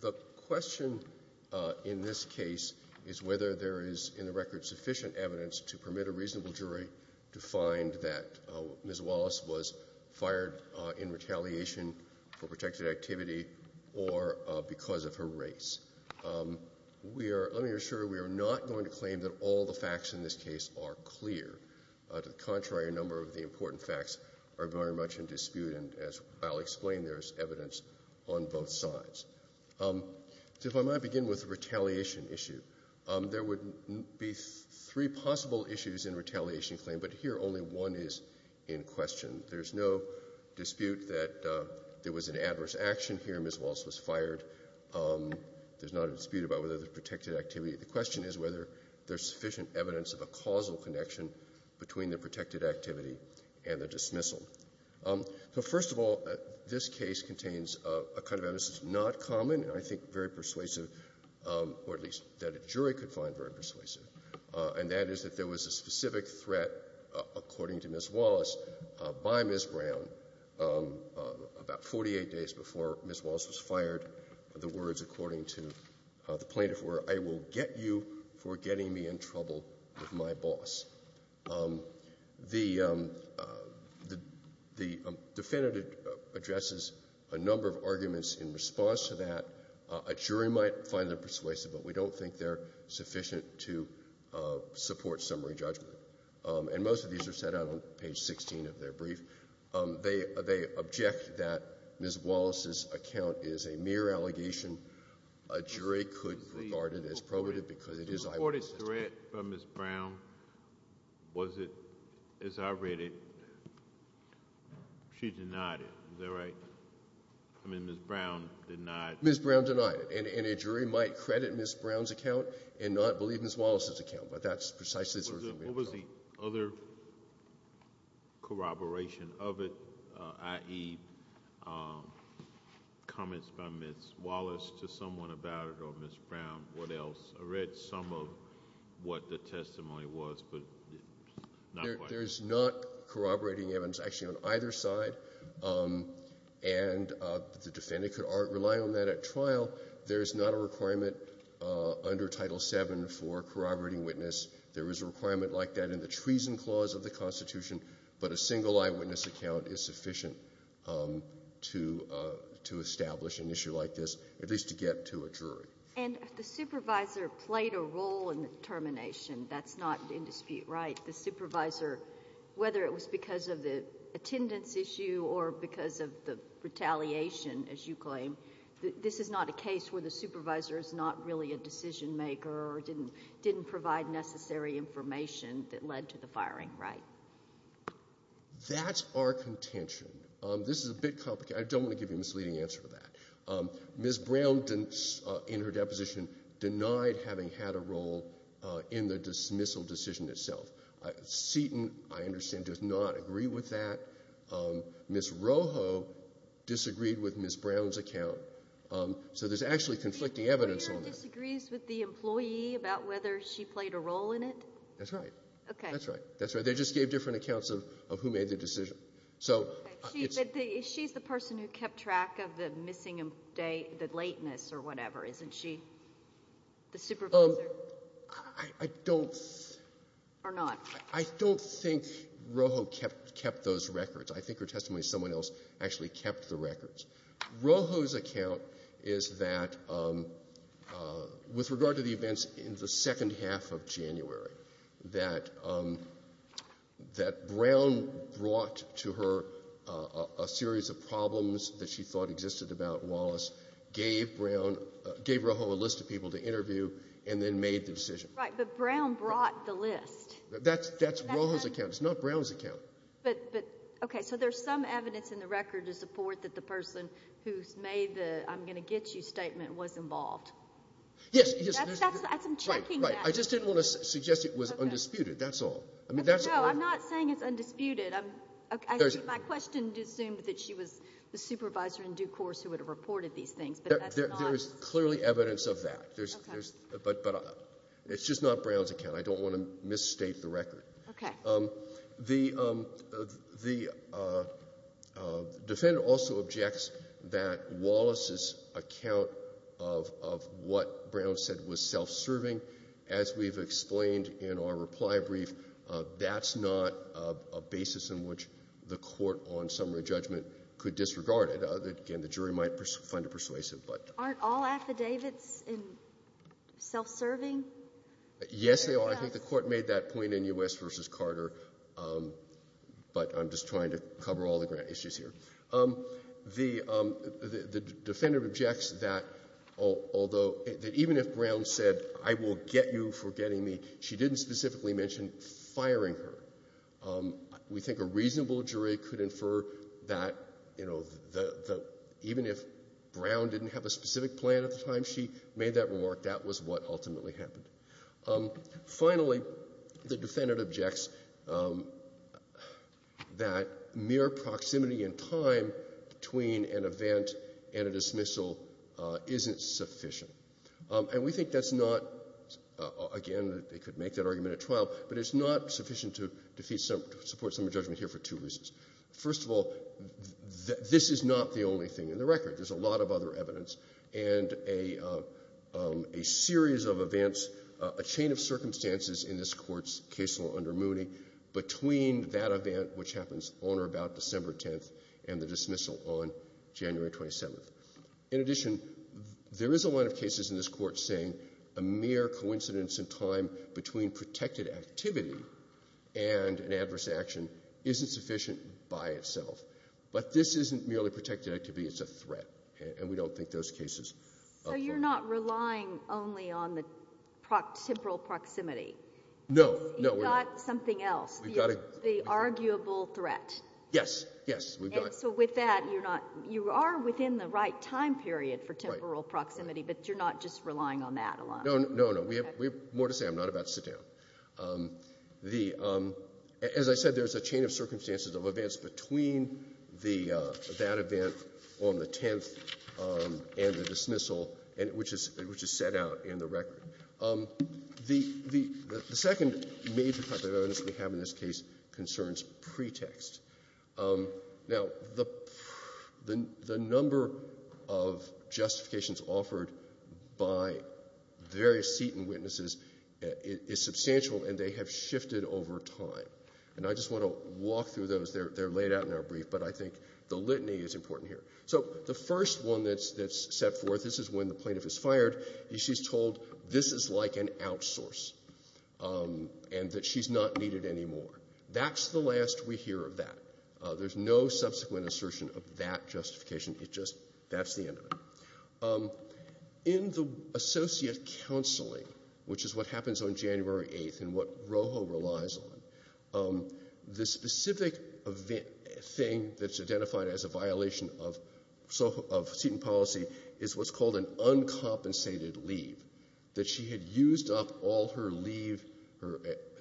The question in this case is whether there is in the record sufficient evidence to permit a reasonable jury to find that Ms. Wallace was fired in retaliation for protected activity or because of her race. Let me assure you we are not going to claim that all the facts in this case are clear. To the contrary, a number of the important facts are very much in dispute and as I'll explain there's evidence on both sides. So if I might begin with the retaliation issue. There would be three possible issues in retaliation claim but here only one is in question. There's no adverse action here. Ms. Wallace was fired. There's not a dispute about whether there's protected activity. The question is whether there's sufficient evidence of a causal connection between the protected activity and the dismissal. So first of all, this case contains a kind of evidence that's not common and I think very persuasive or at least that a jury could find very persuasive and that is that there was a specific threat according to Ms. Wallace by Ms. Brown about 48 days before Ms. Wallace was fired. The words according to the plaintiff were I will get you for getting me in trouble with my boss. The defendant addresses a number of arguments in response to that. A jury might find them persuasive but we don't think they're sufficient to support summary judgment. And most of these are set out on page 16 of their brief. They object that Ms. Wallace's account is a mere allegation. A jury could regard it as probative because it is I will assist it. The reported threat from Ms. Brown was it, as I read it, she denied it. Is that right? I mean Ms. Brown denied it. Ms. Brown denied it and a jury might credit Ms. Brown's account and not believe Ms. Wallace's account but that's precisely the sort of argument I'm making. What was the other corroboration of it, i.e., comments by Ms. Wallace to someone about it or Ms. Brown, what else? I read some of what the testimony was but not quite. There's not corroborating evidence actually on either side and the defendant could rely on that at trial. There's not a requirement under Title VII for corroborating witness. There is a requirement like that in the treason clause of the Constitution but a single eyewitness account is sufficient to establish an issue like this, at least to get to a jury. And the supervisor played a role in the termination. That's not in dispute, right? The supervisor, whether it was because of the attendance issue or because of the retaliation, as you claim, this is not a case where the supervisor is not really a decision maker or didn't provide necessary information that led to the firing, right? That's our contention. This is a bit complicated. I don't want to give you a misleading answer to that. Ms. Brown, in her deposition, denied having had a role in the dismissal decision itself. Seton, I understand, does not agree with that. Ms. Rojo disagreed with Ms. Brown's account. So there's actually conflicting evidence on that. Ms. Rojo disagrees with the employee about whether she played a role in it? That's right. Okay. That's right. That's right. They just gave different accounts of who made the decision. She's the person who kept track of the missing, the lateness or whatever, isn't she? The supervisor? I don't think Rojo kept those records. I think her testimony is someone else actually kept the records. Rojo's account is that, with regard to the events in the second half of January, that Brown brought to her a series of problems that she thought existed about Wallace, gave Rojo a list of people to interview, and then made the decision. Right, but Brown brought the list. That's Rojo's account. It's not Brown's account. But, okay, so there's some evidence in the record to support that the person who's made the I'm going to get you statement was involved. Yes, yes, right, right. I just didn't want to suggest it was undisputed. That's all. No, I'm not saying it's undisputed. My question assumed that she was the supervisor in due course who would have reported these things, but that's not. There's clearly evidence of that, but it's just not Brown's account. I don't want to misstate the record. Okay. The defendant also objects that Wallace's account of what Brown said was self-serving. As we've explained in our reply brief, that's not a basis in which the court on summary judgment could disregard it. Again, the jury might find it persuasive, but. Aren't all affidavits self-serving? Yes, they are. I think the court made that point in U.S. versus Carter, but I'm just trying to cover all the issues here. The defendant objects that although even if Brown said I will get you for getting me, she didn't specifically mention firing her. We think a reasonable jury could infer that, you know, even if Brown didn't have a specific plan at the time she made that remark, that was what ultimately happened. Finally, the defendant objects that mere proximity in time between an event and a dismissal isn't sufficient. And we think that's not, again, they could make that argument at trial, but it's not sufficient to support summary judgment here for two reasons. First of all, this is not the only thing in the record. There's a lot of other evidence, and a series of events, a chain of circumstances in this Court's case law under Mooney between that event, which happens on or about December 10th, and the dismissal on January 27th. In addition, there is a line of cases in this Court saying a mere coincidence in time between protected activity and an adverse action isn't sufficient by itself. But this isn't merely protected activity, it's a threat. And we don't think those cases... So you're not relying only on the temporal proximity? No. You've got something else, the arguable threat. Yes, yes. And so with that, you are within the right time period for temporal proximity, but you're not just relying on that a lot? No, no, no. We have more to say. I'm not about to sit down. As I said, there's a chain of circumstances of events between that event on the 10th and the dismissal, which is set out in the record. The second major type of evidence we have in this case concerns pretext. Now, the number of justifications offered by various Seaton witnesses is substantial. And they have shifted over time. And I just want to walk through those. They're laid out in our brief, but I think the litany is important here. So the first one that's set forth, this is when the plaintiff is fired, and she's told this is like an outsource and that she's not needed anymore. That's the last we hear of that. There's no subsequent assertion of that justification. It just, that's the end of it. In the associate counseling, which is what happens on January 8th and what Rojo relies on, the specific thing that's identified as a violation of Seaton policy is what's called an uncompensated leave, that she had used up all her leave, her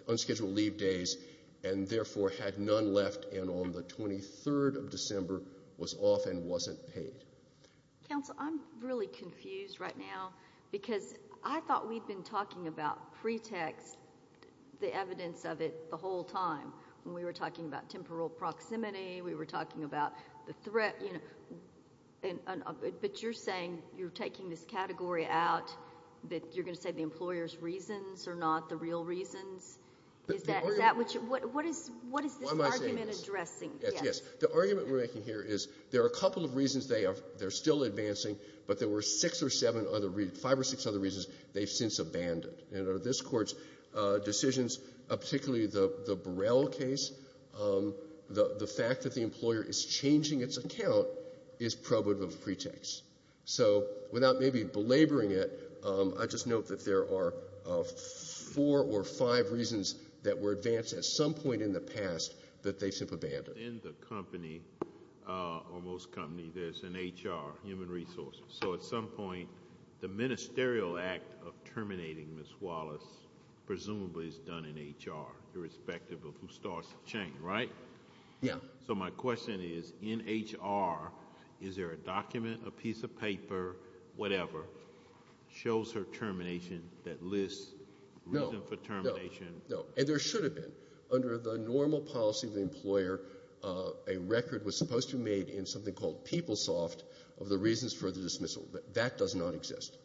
unscheduled leave days, and therefore had none left and on the 23rd of December was off and wasn't paid. Counsel, I'm really confused right now because I thought we'd been talking about pretext, the evidence of it, the whole time. When we were talking about temporal proximity, we were talking about the threat, you know, but you're saying you're taking this category out, that you're going to say the employer's reasons are not the real reasons? Is that what you, what is this argument addressing? Yes. The argument we're making here is there are a couple of reasons they are, they're still advancing, but there were six or seven other, five or six other reasons they've since abandoned. And under this Court's decisions, particularly the Burrell case, the fact that the employer is changing its account is probative of pretext. So without maybe belaboring it, I just note that there are four or five reasons that were advanced at some point in the past that they've simply abandoned. Within the company, or most companies, there's an HR, human resources. So at some point, the ministerial act of terminating Ms. Wallace presumably is done in HR, irrespective of who starts the chain, right? Yeah. So my question is, in HR, is there a document, a piece of paper, whatever, shows her termination that lists reason for termination? No. And there should have been. Under the normal policy of the employer, a record was supposed to be made in something called PeopleSoft of the reasons for the dismissal. That does not exist.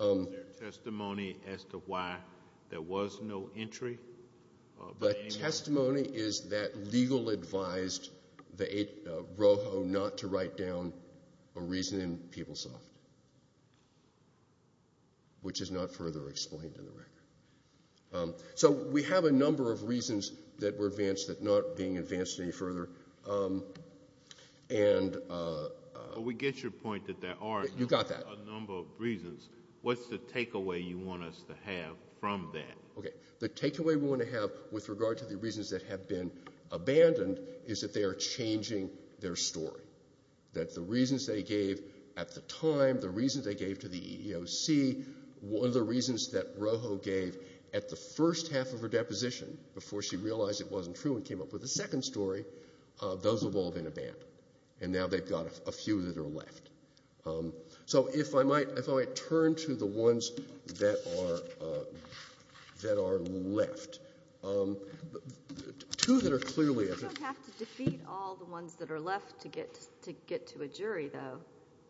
Is there testimony as to why there was no entry? The testimony is that legal advised the ROHO not to write down a reason in PeopleSoft, which is not further explained in the record. So we have a number of reasons that were advanced that are not being advanced any further. And... But we get your point that there are a number of reasons. What's the takeaway you want us to have from that? Okay. The takeaway we want to have with regard to the reasons that have been abandoned is that they are changing their story. That the reasons they gave at the time, the reasons they gave to the EEOC, one of the reasons that ROHO gave at the first half of her deposition before she realized it wasn't true and came up with a second story, those have all been abandoned. And now they've got a few that are left. So if I might turn to the ones that are left. Two that are clearly... You don't have to defeat all the ones that are left to get to a jury, though.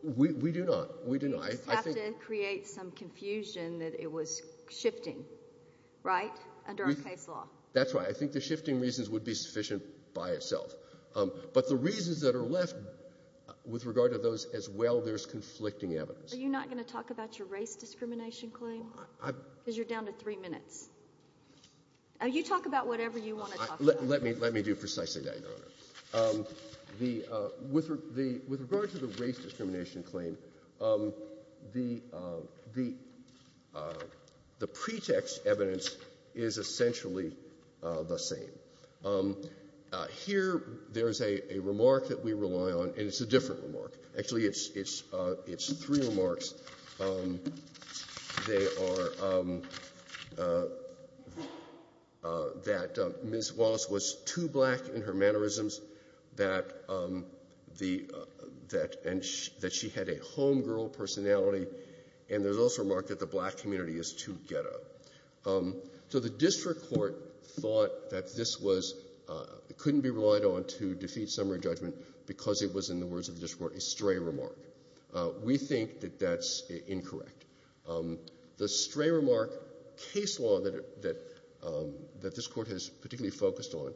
We do not. We do not. You just have to create some confusion that it was shifting, right, under our case law. That's right. I think the shifting reasons would be sufficient by itself. But the reasons that are left with regard to those as well, there's conflicting evidence. Are you not going to talk about your race discrimination claim? Because you're down to three minutes. You talk about whatever you want to talk about. Let me do precisely that, Your Honor. With regard to the race discrimination claim, the pretext evidence is essentially the same. Here there's a remark that we rely on, and it's a different remark. Actually, it's three remarks. They are that Ms. Wallace was too black in her mannerisms, that she had a homegirl personality, and there's also a remark that the black community is too ghetto. So the district court thought that this couldn't be relied on to defeat summary judgment because it was, in the words of the district court, a stray remark. We think that that's incorrect. The stray remark case law that this Court has particularly focused on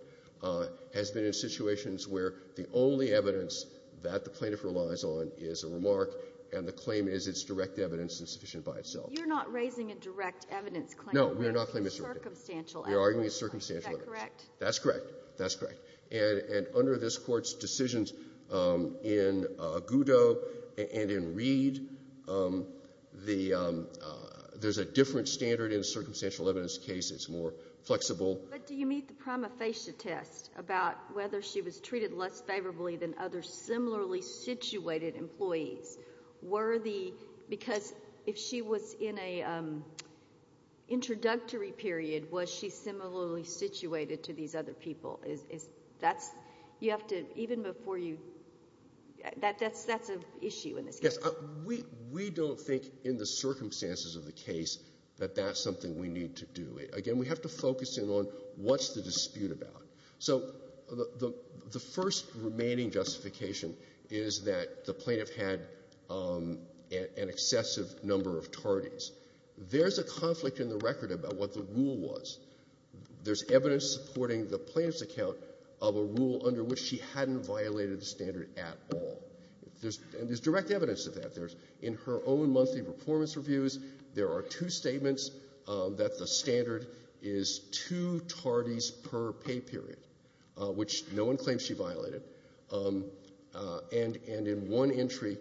has been in situations where the only evidence that the plaintiff relies on is a remark, and the claim is it's direct evidence and sufficient by itself. You're not raising a direct evidence claim. No, we're not raising a direct evidence claim. We're arguing a circumstantial evidence claim. That's correct. That's correct. And under this Court's decisions in Goudeau and in Reed, there's a different standard in a circumstantial evidence case. It's more flexible. But do you meet the prima facie test about whether she was treated less favorably than other similarly situated employees? Were the, because if she was in an introductory period, was she similarly situated to these other people? Is, that's, you have to, even before you, that's an issue in this case. Yes, we don't think in the circumstances of the case that that's something we need to do. Again, we have to focus in on what's the dispute about. So the first remaining justification is that the plaintiff had an excessive number of tardies. There's a conflict in the record about what the rule was. There's evidence supporting the plaintiff's account of a rule under which she hadn't violated the standard at all. There's, and there's direct evidence of that. There's, in her own monthly performance reviews, there are two statements that the standard is two tardies per pay period, which no one claims she violated. And in one entry,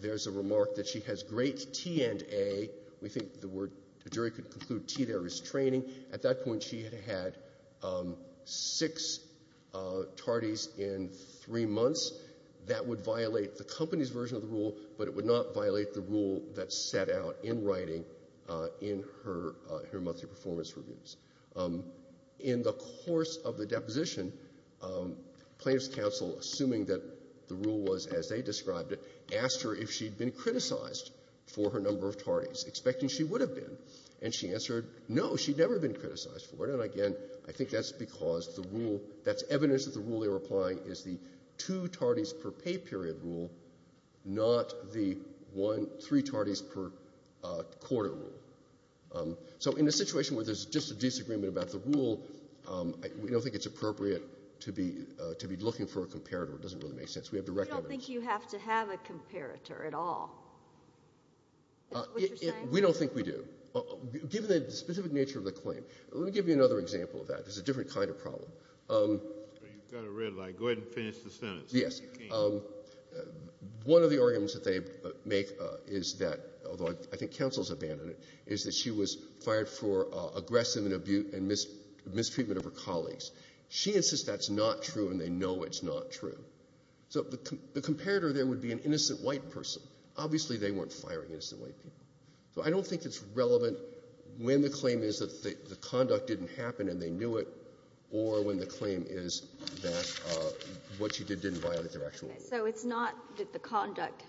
there's a remark that she has great T and A. We think the word, the jury could conclude T there is training. At that point, she had had six tardies in three months. That would violate the company's version of the rule, but it would not violate the rule that's set out in writing in her monthly performance reviews. In the course of the deposition, plaintiff's counsel, assuming that the rule was as they described it, asked her if she'd been criticized for her number of tardies, expecting she would have been. And she answered, no, she'd never been criticized for it. And again, I think that's because the rule, that's evidence that the rule they were applying is the two tardies per pay period rule, not the one, three tardies per quarter rule. So in a situation where there's just a disagreement about the rule, we don't think it's appropriate to be looking for a comparator. It doesn't really make sense. We have direct evidence. I don't think you have to have a comparator at all. Is that what you're saying? We don't think we do, given the specific nature of the claim. Let me give you another example of that. It's a different kind of problem. You've got a red light. Go ahead and finish the sentence. Yes. One of the arguments that they make is that, although I think counsel's abandoned it, is that she was fired for aggressive and abuse and mistreatment of her colleagues. She insists that's not true, and they know it's not true. So the comparator there would be an innocent white person. Obviously, they weren't firing innocent white people. So I don't think it's relevant when the claim is that the conduct didn't happen and they knew it, or when the claim is that what she did didn't violate their actual rights. So it's not that the conduct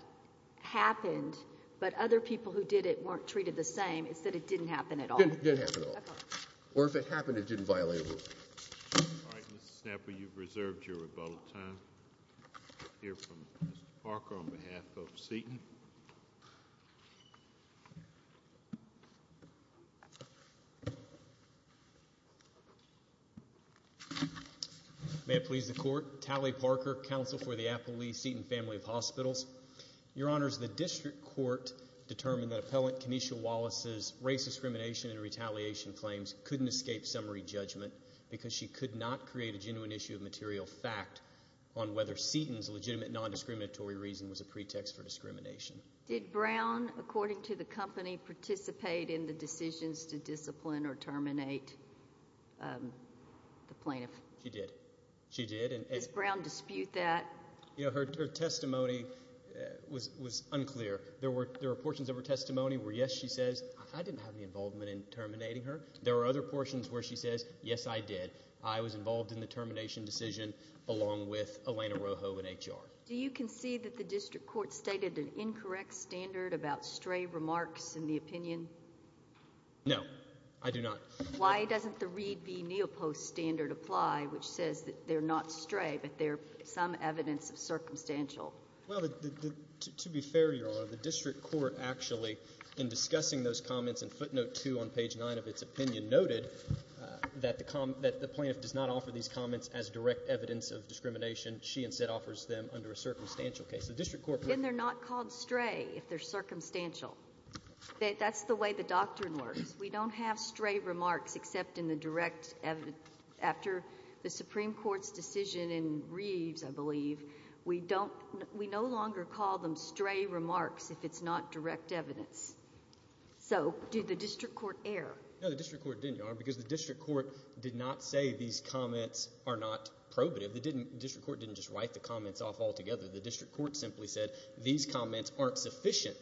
happened, but other people who did it weren't treated the same. It's that it didn't happen at all. It didn't happen at all. Okay. Or if it happened, it didn't violate rules. All right, Ms. Snapper, you've reserved your rebuttal time. I'll hear from Mr. Parker on behalf of Seton. May it please the Court. Tally Parker, counsel for the Appleby-Seton family of hospitals. Your Honors, the district court determined that Appellant Kenesha Wallace's race discrimination and retaliation claims couldn't escape summary judgment because she could not create a genuine issue of material fact on whether Seton's legitimate non-discriminatory reason was a pretext for discrimination. Did Brown, according to the company, participate in the decisions to discipline or terminate the plaintiff? She did. She did. Does Brown dispute that? You know, her testimony was unclear. There were portions of her testimony where, yes, she says, I didn't have any involvement in terminating her. There were other portions where she says, yes, I did. I was involved in the termination decision along with Elena Rojo in HR. Do you concede that the district court stated an incorrect standard about stray remarks in the opinion? No, I do not. Why doesn't the Reed v. Neopost standard apply, which says that they're not stray but they're some evidence of circumstantial? Well, to be fair, Your Honor, the district court actually, in discussing those comments in footnote two on page nine of its opinion, noted that the plaintiff does not offer these comments as direct evidence of discrimination. She instead offers them under a circumstantial case. The district court... And they're not called stray if they're circumstantial. That's the way the doctrine works. We don't have stray remarks except in the direct evidence. After the Supreme Court's decision in Reeves, I believe, we don't, we no longer call them stray remarks if it's not direct evidence. So did the district court err? No, the district court didn't, Your Honor, because the district court did not say these comments are not probative. The district court didn't just write the comments off altogether. The district court simply said these comments aren't sufficient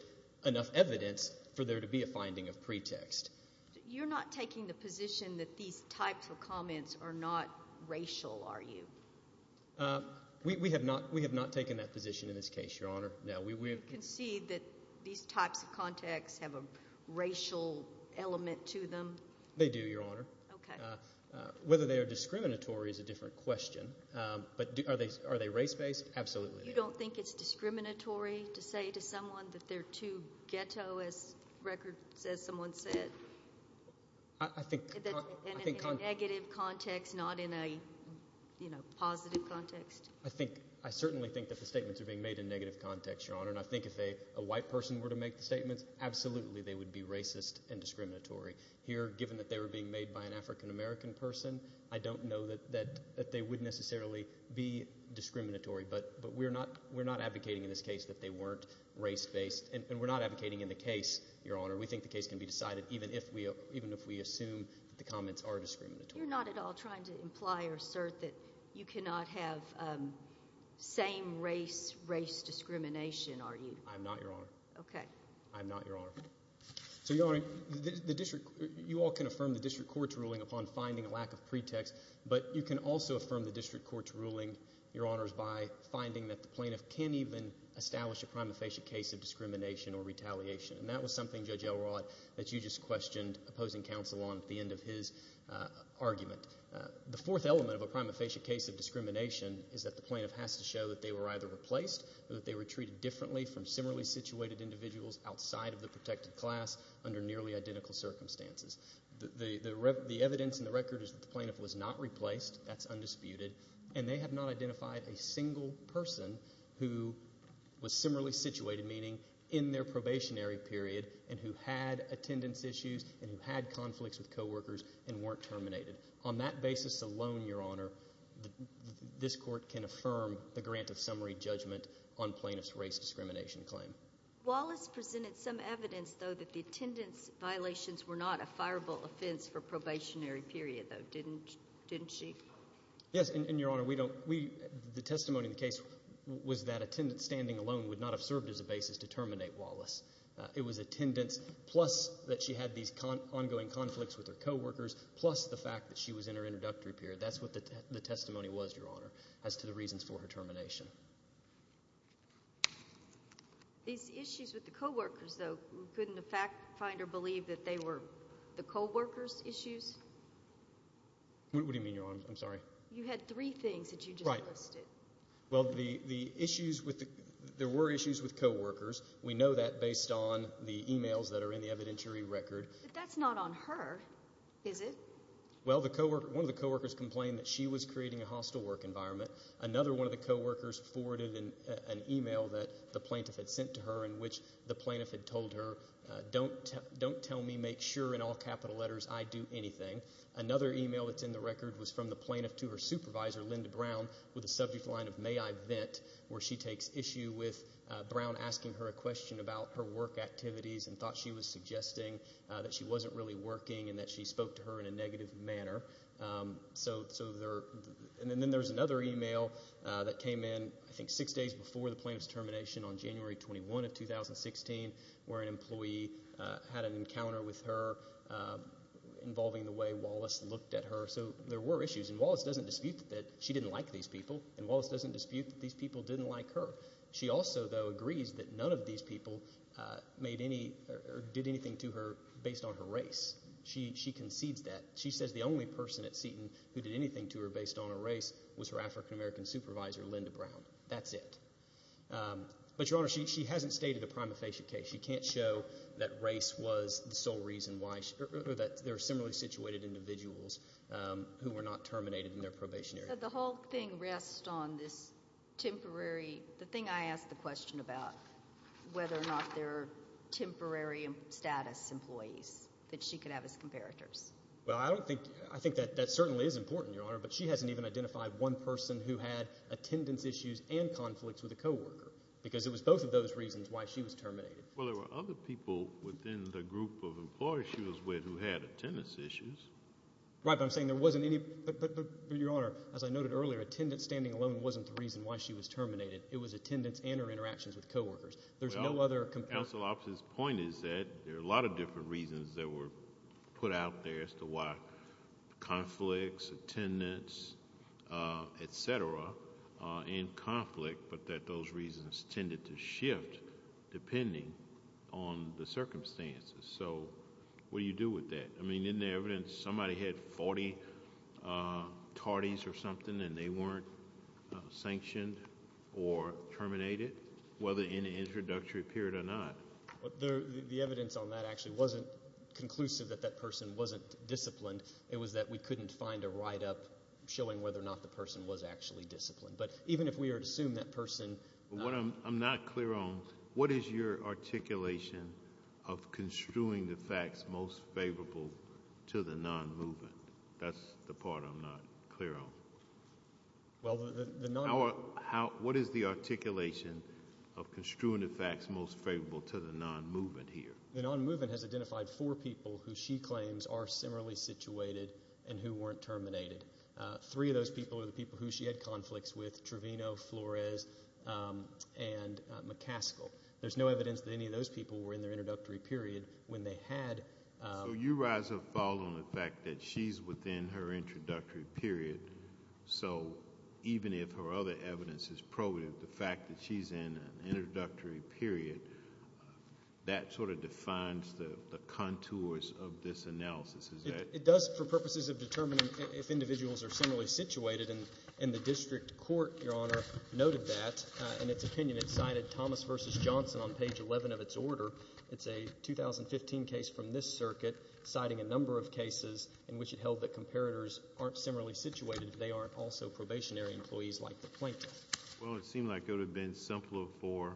enough evidence for there to be a finding of pretext. You're not taking the position that these types of comments are not racial, are you? We have not taken that position in this case, Your Honor. Now, we... Do you concede that these types of contacts have a racial element to them? They do, Your Honor. Okay. Whether they are discriminatory is a different question. But are they race-based? Absolutely. You don't think it's discriminatory to say to someone that they're too ghetto, as records, as someone said? I think... In a negative context, not in a, you know, positive context? I think, I certainly think that the statements are being made in negative context, Your Honor. And I think if a white person were to make the statements, absolutely they would be racist and discriminatory. Here, given that they were being made by an African-American person, I don't know that they would necessarily be discriminatory. But we're not advocating in this case that they weren't race-based. And we're not advocating in the case, Your Honor. We think the case can be decided even if we assume that the comments are discriminatory. You're not at all trying to imply or assert that you cannot have same-race, race discrimination, are you? I'm not, Your Honor. Okay. I'm not, Your Honor. So, Your Honor, the district... You all can affirm the district court's ruling upon finding a lack of pretext. But you can also affirm the district court's ruling, Your Honors, by finding that the plaintiff can't even establish a prima facie case of discrimination or retaliation. And that was something, Judge Elrod, that you just questioned opposing counsel on at the end of his argument. The fourth element of a prima facie case of discrimination is that the plaintiff has to show that they were either replaced or that they were treated differently from similarly situated individuals outside of the protected class under nearly identical circumstances. The evidence and the record is that the plaintiff was not replaced. That's undisputed. And they have not identified a single person who was similarly situated, meaning in their probationary period, and who had attendance issues and who had conflicts with co-workers and weren't terminated. On that basis alone, Your Honor, this court can affirm the grant of summary judgment on plaintiff's race discrimination claim. Wallace presented some evidence, though, that the attendance violations were not a fireable offense for probationary period, though, didn't she? Yes. And, Your Honor, we don't... The testimony in the case was that attendance standing alone would not have served as a basis to terminate Wallace. It was attendance, plus that she had these ongoing conflicts with her co-workers, plus the fact that she was in her introductory period. That's what the testimony was, Your Honor, as to the reasons for her termination. These issues with the co-workers, though, couldn't the fact find or believe that they were the co-workers' issues? What do you mean, Your Honor? I'm sorry. You had three things that you just listed. Well, the issues with the... There were issues with co-workers. We know that based on the emails that are in the evidentiary record. But that's not on her, is it? Well, one of the co-workers complained that she was creating a hostile work environment. Another one of the co-workers forwarded an email that the plaintiff had sent to her in which the plaintiff had told her, don't tell me, make sure in all capital letters I do anything. Another email that's in the record was from the plaintiff to her supervisor, Linda Brown, with a subject line of, may I vent, where she takes issue with Brown asking her a question about her work activities and thought she was suggesting that she wasn't really working and that she spoke to her in a negative manner. And then there's another email that came in, I think, six days before the plaintiff's termination on January 21 of 2016, where an employee had an encounter with her involving the way Wallace looked at her. So there were issues. And Wallace doesn't dispute that she didn't like these people. And Wallace doesn't dispute that these people didn't like her. She also, though, agrees that none of these people made any or did anything to her based on her race. She concedes that. She says the only person at Seton who did anything to her based on her race was her African-American supervisor, Linda Brown. That's it. But, Your Honor, she hasn't stated a prima facie case. She can't show that race was the sole reason why she, or that there are similarly situated individuals who were not terminated in their probationary. So the whole thing rests on this temporary, the thing I asked the question about, whether or not there are temporary status employees that she could have as comparators. Well, I don't think, I think that that certainly is important, Your Honor, but she hasn't even identified one person who had attendance issues and conflicts with a coworker, because it was both of those reasons why she was terminated. Well, there were other people within the group of employees she was with who had attendance issues. Right, but I'm saying there wasn't any, but, Your Honor, as I noted earlier, attendance standing alone wasn't the reason why she was terminated. It was attendance and her interactions with coworkers. There's no other comparison. Well, counsel's point is that there are a lot of different reasons that were put out there as to why conflicts, attendance, et cetera, and conflict, but that those reasons tended to shift depending on the circumstances. So what do you do with that? I mean, isn't there evidence somebody had 40 tardies or something and they weren't sanctioned or terminated, whether in an introductory period or not? The evidence on that actually wasn't conclusive that that person wasn't disciplined. It was that we couldn't find a write-up showing whether or not the person was actually disciplined. But even if we were to assume that person... What I'm not clear on, what is your articulation of construing the facts most favorable to the non-movement? That's the part I'm not clear on. Well, the non... What is the articulation of construing the facts most favorable to the non-movement here? The non-movement has identified four people who she claims are similarly situated and who weren't terminated. Three of those people are the people who she had conflicts with, Trevino, Flores, and McCaskill. There's no evidence that any of those people were in their introductory period when they had... So you rise or fall on the fact that she's within her introductory period, so even if her other evidence is probative, the fact that she's in an introductory period, that sort of defines the contours of this analysis, is that... It does for purposes of determining if individuals are similarly situated. And the district court, Your Honor, noted that. In its opinion, it cited Thomas versus Johnson on page 11 of its order. It's a 2015 case from this circuit citing a number of cases in which it held that comparators aren't similarly situated if they aren't also probationary employees like the plaintiff. Well, it seemed like it would have been simpler for...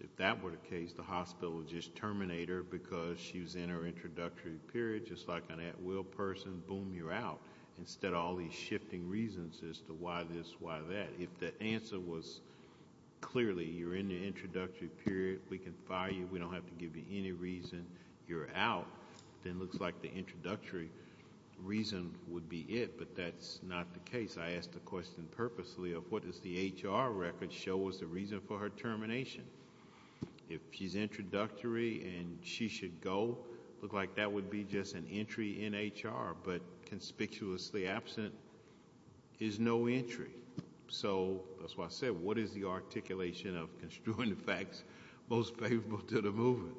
If that were the case, the hospital would just terminate her because she was in her introductory period, just like an at-will person, boom, you're out. Instead of all these shifting reasons as to why this, why that. If the answer was clearly, you're in the introductory period, we can fire you, we don't have to give you any reason, you're out, then it looks like the introductory reason would be it, but that's not the case. I asked the question purposely of what does the HR record show as the reason for her termination? If she's introductory and she should go, it would look like that would be just an entry in HR, but conspicuously absent is no entry. So, that's why I said, what is the articulation of construing the facts most favorable to the movement?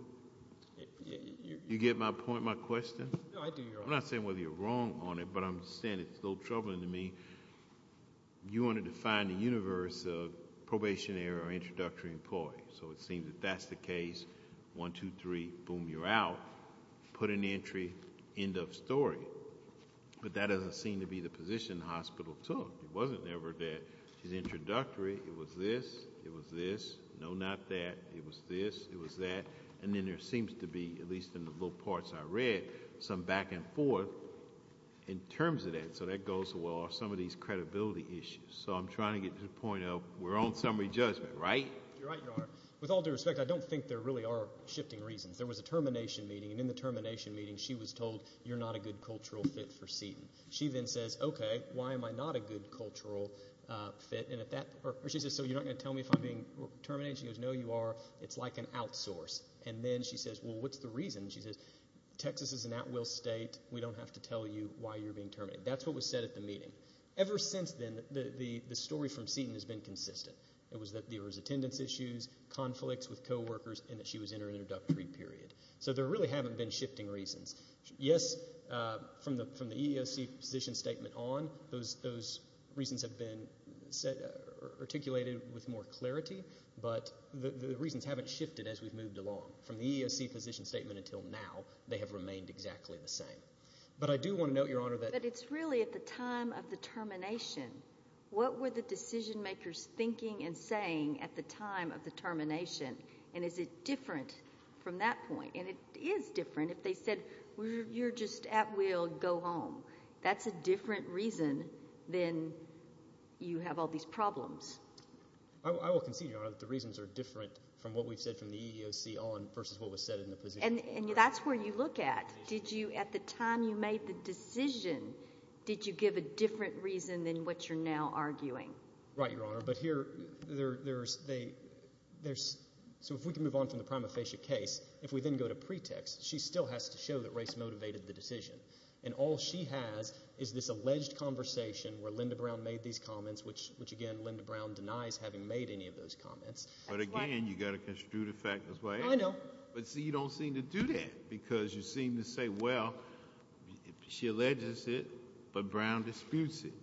You get my point, my question? No, I do, Your Honor. I'm not saying whether you're wrong on it, but I'm saying it's a little troubling to me. You wanted to find the universe of probationary or introductory employees. So, it seems that that's the case, one, two, three, boom, you're out, put an entry, end of story. But that doesn't seem to be the position the hospital took. It wasn't never that she's introductory, it was this, it was this, no, not that, it was this, it was that, and then there seems to be, at least in the little parts I read, some back and forth in terms of that. So, that goes well with some of these credibility issues. So, I'm trying to get to the point of, we're on summary judgment, right? You're right, Your Honor. With all due respect, I don't think there really are shifting reasons. There was a termination meeting, and in the termination meeting, she was told you're not a good cultural fit for Seton. She then says, okay, why am I not a good cultural fit, and at that, or she says, so you're not going to tell me if I'm being terminated? She goes, no, you are, it's like an outsource. And then she says, well, what's the reason? She says, Texas is an at-will state, we don't have to tell you why you're being terminated. That's what was said at the meeting. Ever since then, the story from Seton has been consistent. It was that there was attendance issues, conflicts with co-workers, and that she was in her introductory period. So, there really haven't been shifting reasons. Yes, from the EEOC position statement on, those reasons have been articulated with more clarity, but the reasons haven't shifted as we've moved along. From the EEOC position statement until now, they have remained exactly the same. But I do want to note, Your Honor, that it's really at the time of the termination, what were the decision-makers thinking and saying at the time of the termination? And is it different from that point? And it is different if they said, you're just at-will, go home. That's a different reason than you have all these problems. I will concede, Your Honor, that the reasons are different from what we've said from the EEOC on versus what was said in the position statement. And that's where you look at. Did you, at the time you made the decision, did you give a different reason than what you're now arguing? Right, Your Honor, but here, there's, so if we can move on from the prima facie case, if we then go to pretext, she still has to show that race motivated the decision. And all she has is this alleged conversation where Linda Brown made these comments, which again, Linda Brown denies having made any of those comments. But again, you've got to construe the fact as well. I know. But see, you don't seem to do that because you seem to say, well, she alleges it, but Brown disputes it.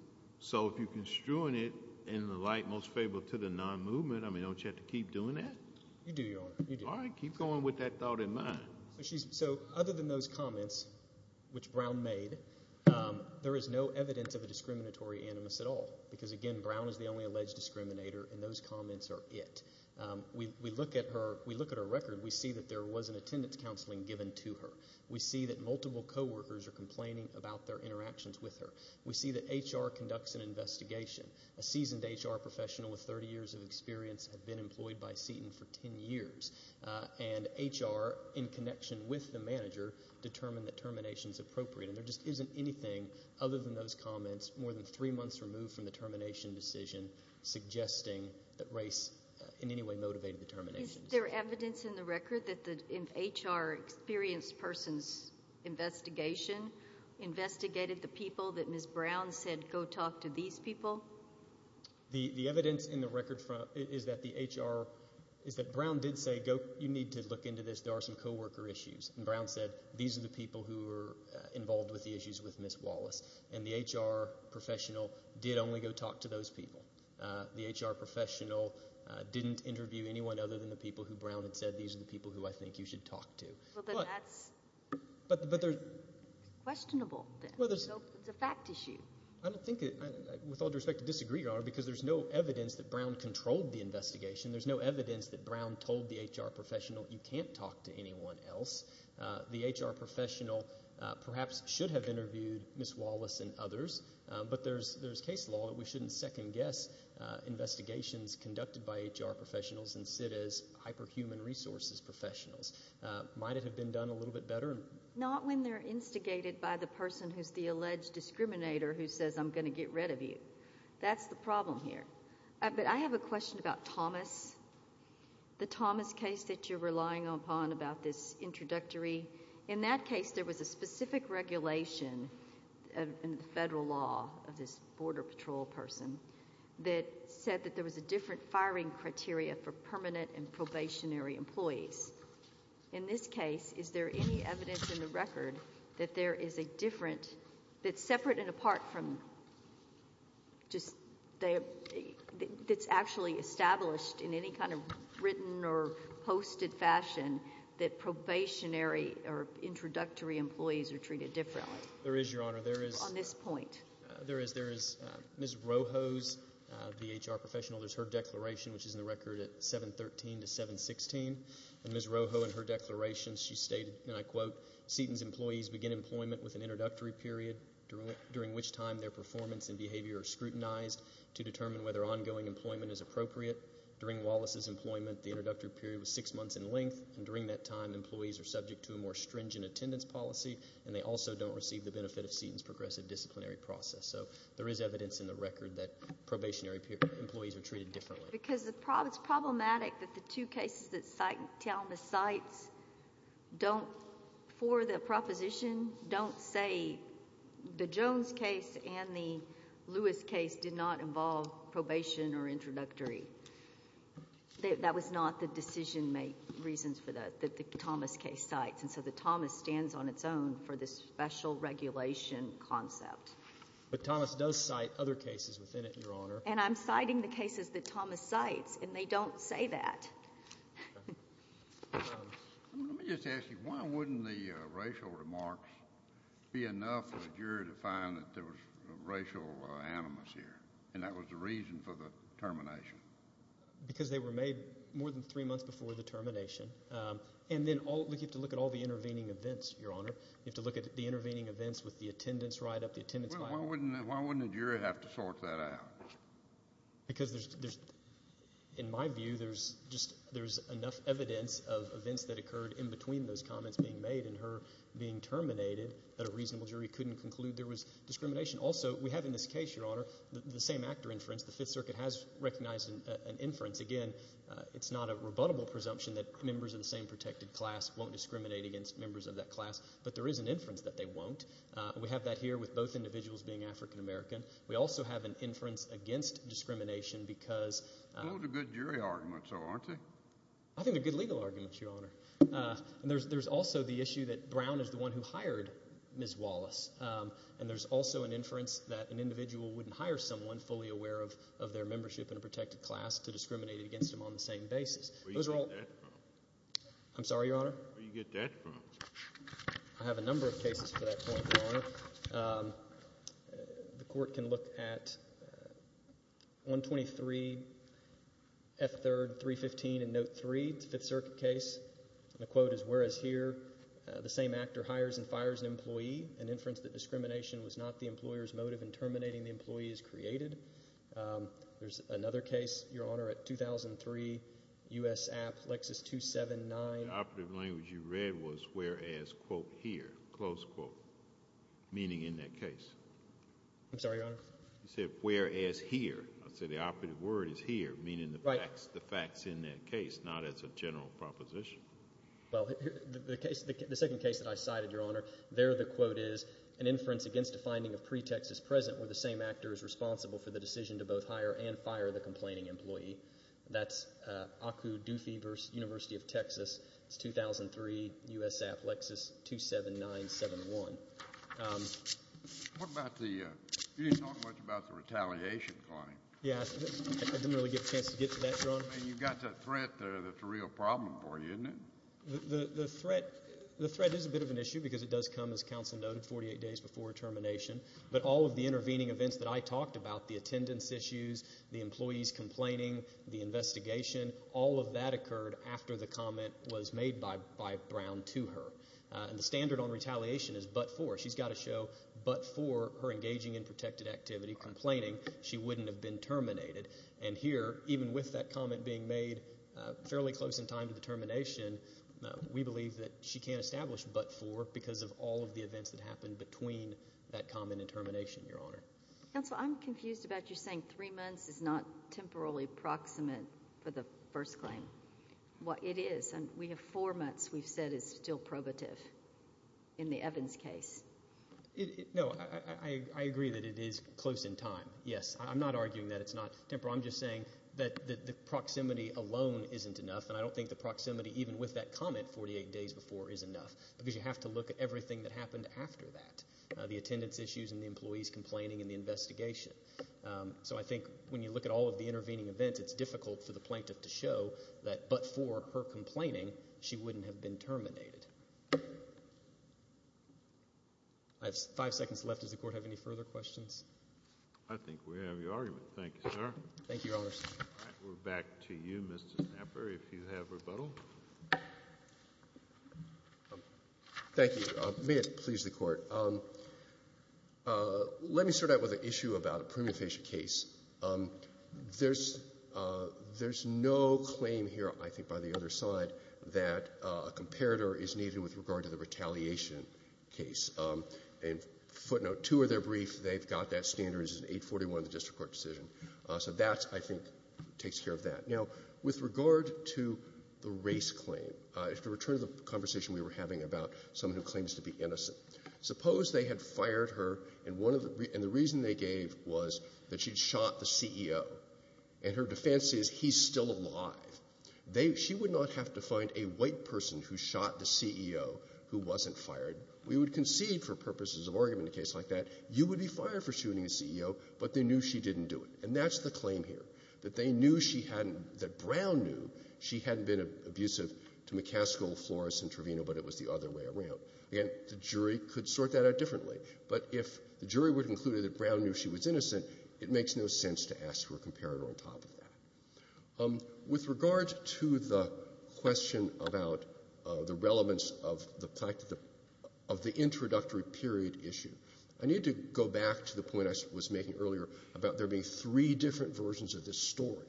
So if you're construing it in the light most favorable to the non-movement, I mean, don't you have to keep doing that? You do, Your Honor, you do. All right, keep going with that thought in mind. So other than those comments, which Brown made, there is no evidence of a discriminatory animus at all, because again, Brown is the only alleged discriminator, and those comments are it. We look at her record, we see that there was an attendance counseling given to her. We see that multiple coworkers are complaining about their interactions with her. We see that HR conducts an investigation. A seasoned HR professional with 30 years of experience had been employed by Seton for 10 years. And HR, in connection with the manager, determined that termination is appropriate. And there just isn't anything other than those comments, more than three months removed from the termination decision, suggesting that race in any way motivated the termination. Is there evidence in the record that the HR experienced person's investigation investigated the people that Ms. Brown said, go talk to these people? The evidence in the record is that the HR, is that Brown did say, go, you need to look into this. There are some coworker issues. And Brown said, these are the people who were involved with the issues with Ms. Wallace. And the HR professional did only go talk to those people. The HR professional didn't interview anyone other than the people who Brown had said, these are the people who I think you should talk to. But that's questionable. It's a fact issue. I don't think, with all due respect, to disagree, Your Honor, because there's no evidence that Brown controlled the investigation. There's no evidence that Brown told the HR professional, you can't talk to anyone else. The HR professional perhaps should have interviewed Ms. Wallace and others. But there's case law that we shouldn't second guess investigations conducted by HR professionals and sit as hyperhuman resources professionals. Might it have been done a little bit better? Not when they're instigated by the person who's the alleged discriminator who says I'm going to get rid of you. That's the problem here. But I have a question about Thomas, the Thomas case that you're relying upon about this introductory, in that case there was a specific regulation in the federal law of this border patrol person that said that there was a different firing criteria for permanent and probationary employees. In this case, is there any evidence in the record that there is a different, that's separate and apart from, that's actually established in any kind of written or posted fashion that probationary or introductory employees are treated differently? There is, Your Honor. There is. On this point. There is. There is. Ms. Rojo's, the HR professional, there's her declaration, which is in the record at 713 to 716. And Ms. Rojo in her declaration, she stated, and I quote, Seton's employees begin employment with an introductory period, during which time their performance and behavior are scrutinized to determine whether ongoing employment is appropriate. During Wallace's employment, the introductory period was six months in length. And during that time, employees are subject to a more stringent attendance policy and they also don't receive the benefit of Seton's progressive disciplinary process. So there is evidence in the record that probationary employees are treated differently. Because it's problematic that the two cases that Thelma cites don't, for the proposition, don't say the Jones case and the Lewis case did not involve probation or introductory. That was not the decision-make reasons for that, that the Thomas case cites. And so the Thomas stands on its own for this special regulation concept. But Thomas does cite other cases within it, Your Honor. And I'm citing the cases that Thomas cites, and they don't say that. Let me just ask you, why wouldn't the racial remarks be enough for the jury to find that there was racial animus here? And that was the reason for the termination. Because they were made more than three months before the termination. And then you have to look at all the intervening events, Your Honor. You have to look at the intervening events with the attendance write-up, the attendance file. Well, why wouldn't the jury have to sort that out? Because there's, in my view, there's just, there's enough evidence of events that occurred in between those comments being made and her being terminated that a reasonable jury couldn't conclude there was discrimination. Also, we have in this case, Your Honor, the same actor inference. The Fifth Circuit has recognized an inference. Again, it's not a rebuttable presumption that members of the same protected class won't discriminate against members of that class. But there is an inference that they won't. We have that here with both individuals being African American. We also have an inference against discrimination because. Those are good jury arguments, though, aren't they? I think they're good legal arguments, Your Honor. And there's also the issue that Brown is the one who hired Ms. Wallace. And there's also an inference that an individual wouldn't hire someone fully aware of their membership in a protected class to discriminate against them on the same basis. Where do you get that from? I'm sorry, Your Honor? I have a number of cases to that point, Your Honor. The court can look at 123, F3rd, 315, and Note 3, the Fifth Circuit case. The quote is, whereas here, the same actor hires and fires an employee, an inference that discrimination was not the employer's motive in terminating the employees created. There's another case, Your Honor, at 2003, US App, Lexus 279. The operative language you read was whereas, quote, here, close quote, meaning in that case. I'm sorry, Your Honor? You said whereas here. I said the operative word is here, meaning the facts in that case, not as a general proposition. Well, the second case that I cited, Your Honor, there the quote is, an inference against a finding of pretext is present where the same actor is responsible for the decision to both hire and fire the complaining employee. That's ACU, Doofy University of Texas, it's 2003, US App, Lexus 27971. What about the, you didn't talk much about the retaliation claim. Yeah, I didn't really get a chance to get to that, Your Honor. I mean, you've got that threat there that's a real problem for you, isn't it? The threat is a bit of an issue because it does come, as counsel noted, 48 days before termination. But all of the intervening events that I talked about, the attendance issues, the employees complaining, the investigation, all of that occurred after the comment was made by Brown to her. And the standard on retaliation is but for. She's got to show but for her engaging in protected activity, complaining she wouldn't have been terminated. And here, even with that comment being made fairly close in time to the termination, we believe that she can't establish but for because of all of the events that happened between that comment and termination, Your Honor. Counsel, I'm confused about you saying three months is not temporarily proximate for the first claim. Well, it is. And we have four months we've said is still probative in the Evans case. No, I agree that it is close in time. Yes, I'm not arguing that it's not temporary. I'm just saying that the proximity alone isn't enough. And I don't think the proximity, even with that comment 48 days before, is enough because you have to look at everything that happened after that. The attendance issues and the employees complaining in the investigation. So I think when you look at all of the intervening events, it's difficult for the plaintiff to show that but for her complaining, she wouldn't have been terminated. I have five seconds left. Does the court have any further questions? I think we have your argument. Thank you, sir. Thank you, Your Honor. We're back to you, Mr. Snapper, if you have rebuttal. Thank you. May it please the court. Let me start out with an issue about a premium facial case. There's no claim here, I think, by the other side that a comparator is needed with regard to the retaliation case. And footnote, two of their briefs, they've got that standard as an 841 in the district court decision. So that, I think, takes care of that. Now, with regard to the race claim, to return to the conversation we were having about someone who claims to be innocent. Suppose they had fired her and the reason they gave was that she'd shot the CEO and her defense is, he's still alive. She would not have to find a white person who shot the CEO who wasn't fired. We would concede, for purposes of argument in a case like that, you would be fired for shooting a CEO, but they knew she didn't do it. And that's the claim here, that Brown knew she hadn't been abusive to McCaskill, Flores, and Trevino, but it was the other way around. Again, the jury could sort that out differently, but if the jury would have concluded that Brown knew she was innocent, it makes no sense to ask for a comparator on top of that. With regard to the question about the relevance of the introductory period issue, I need to go back to the point I was making earlier about there being three different versions of this story,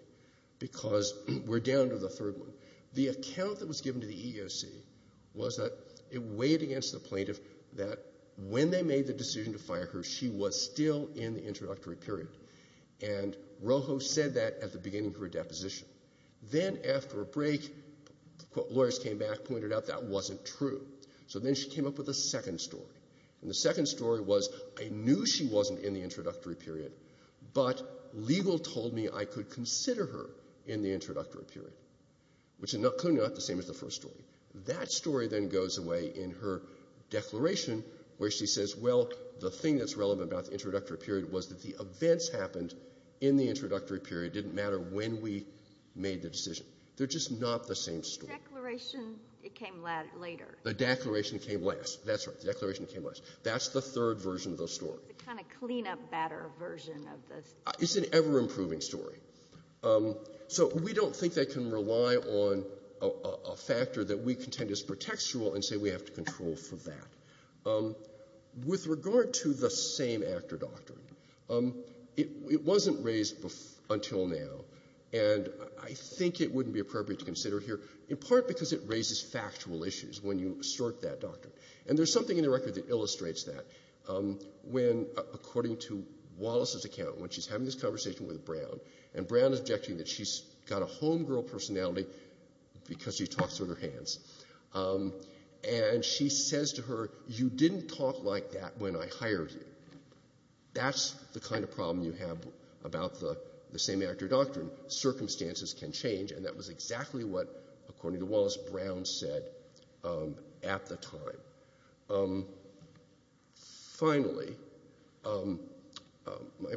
because we're down to the third one. The account that was given to the EEOC weighed against the plaintiff that when they made the decision to fire her, she was still in the introductory period, and Rojo said that at the beginning of her deposition. Then after a break, lawyers came back and pointed out that wasn't true, so then she came up with a second story, and the second story was, I knew she wasn't in the introductory period, but legal told me I could consider her in the introductory period. Clearly not the same as the first story. That story then goes away in her declaration where she says, well, the thing that's relevant about the introductory period was that the events happened in the introductory period didn't matter when we made the decision. They're just not the same story. The declaration, it came later. The declaration came last. That's right. The declaration came last. That's the third version of the story. It's a kind of clean-up batter version of the story. It's an ever-improving story. So we don't think they can rely on a factor that we contend is pretextual and say we have to control for that. With regard to the same actor doctrine, it wasn't raised until now, and I think it wouldn't be appropriate to consider here, in part because it raises factual issues when you assert that doctrine. And there's something in the record that illustrates that when, according to Wallace's account, when she's having this conversation with Brown, and Brown is objecting that she's got a homegirl personality because she talks with her hands, and she says to her, you didn't talk like that when I hired you. That's the kind of problem you have about the same actor doctrine. Circumstances can change, and that was exactly what, according to Wallace, Brown said at the time. Finally, my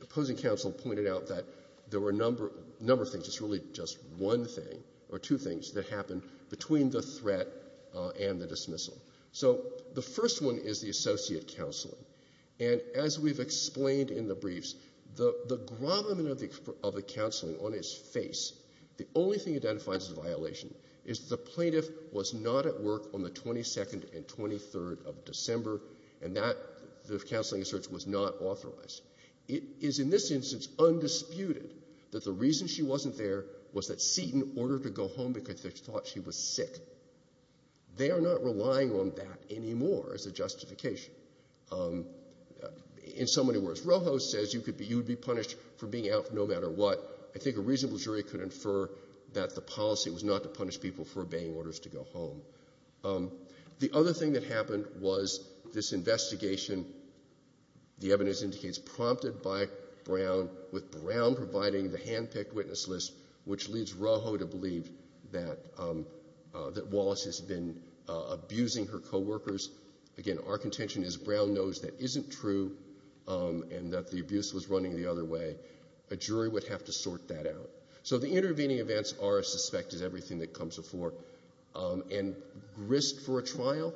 opposing counsel pointed out that there were a number of things, it's really just one thing, or two things, that happened between the threat and the dismissal. So the first one is the associate counseling. And as we've explained in the briefs, the grommet of the counseling on its face, the only thing it identifies as a violation is the plaintiff was not at work on the 22nd and 23rd of December, and that, the counseling asserts, was not authorized. It is in this instance undisputed that the reason she wasn't there was that Seton ordered her to go home because they thought she was sick. They are not relying on that anymore as a justification. In so many words, Rojo says you would be punished for being out no matter what. I think a reasonable jury could infer that the policy was not to punish people for obeying orders to go home. The other thing that happened was this investigation, the evidence indicates, prompted by Brown with Brown providing the handpicked witness list, which leads Rojo to believe that Wallace has been abusing her co-workers. Again, our contention is Brown knows that isn't true and that the abuse was running the other way. A jury would have to sort that out. So the intervening events are as suspect as everything that comes before, and risk for a trial,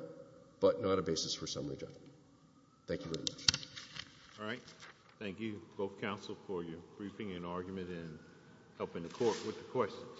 but not a basis for summary judgment. Thank you very much. All right. Thank you, both counsel, for your briefing and argument and helping the court with the questions.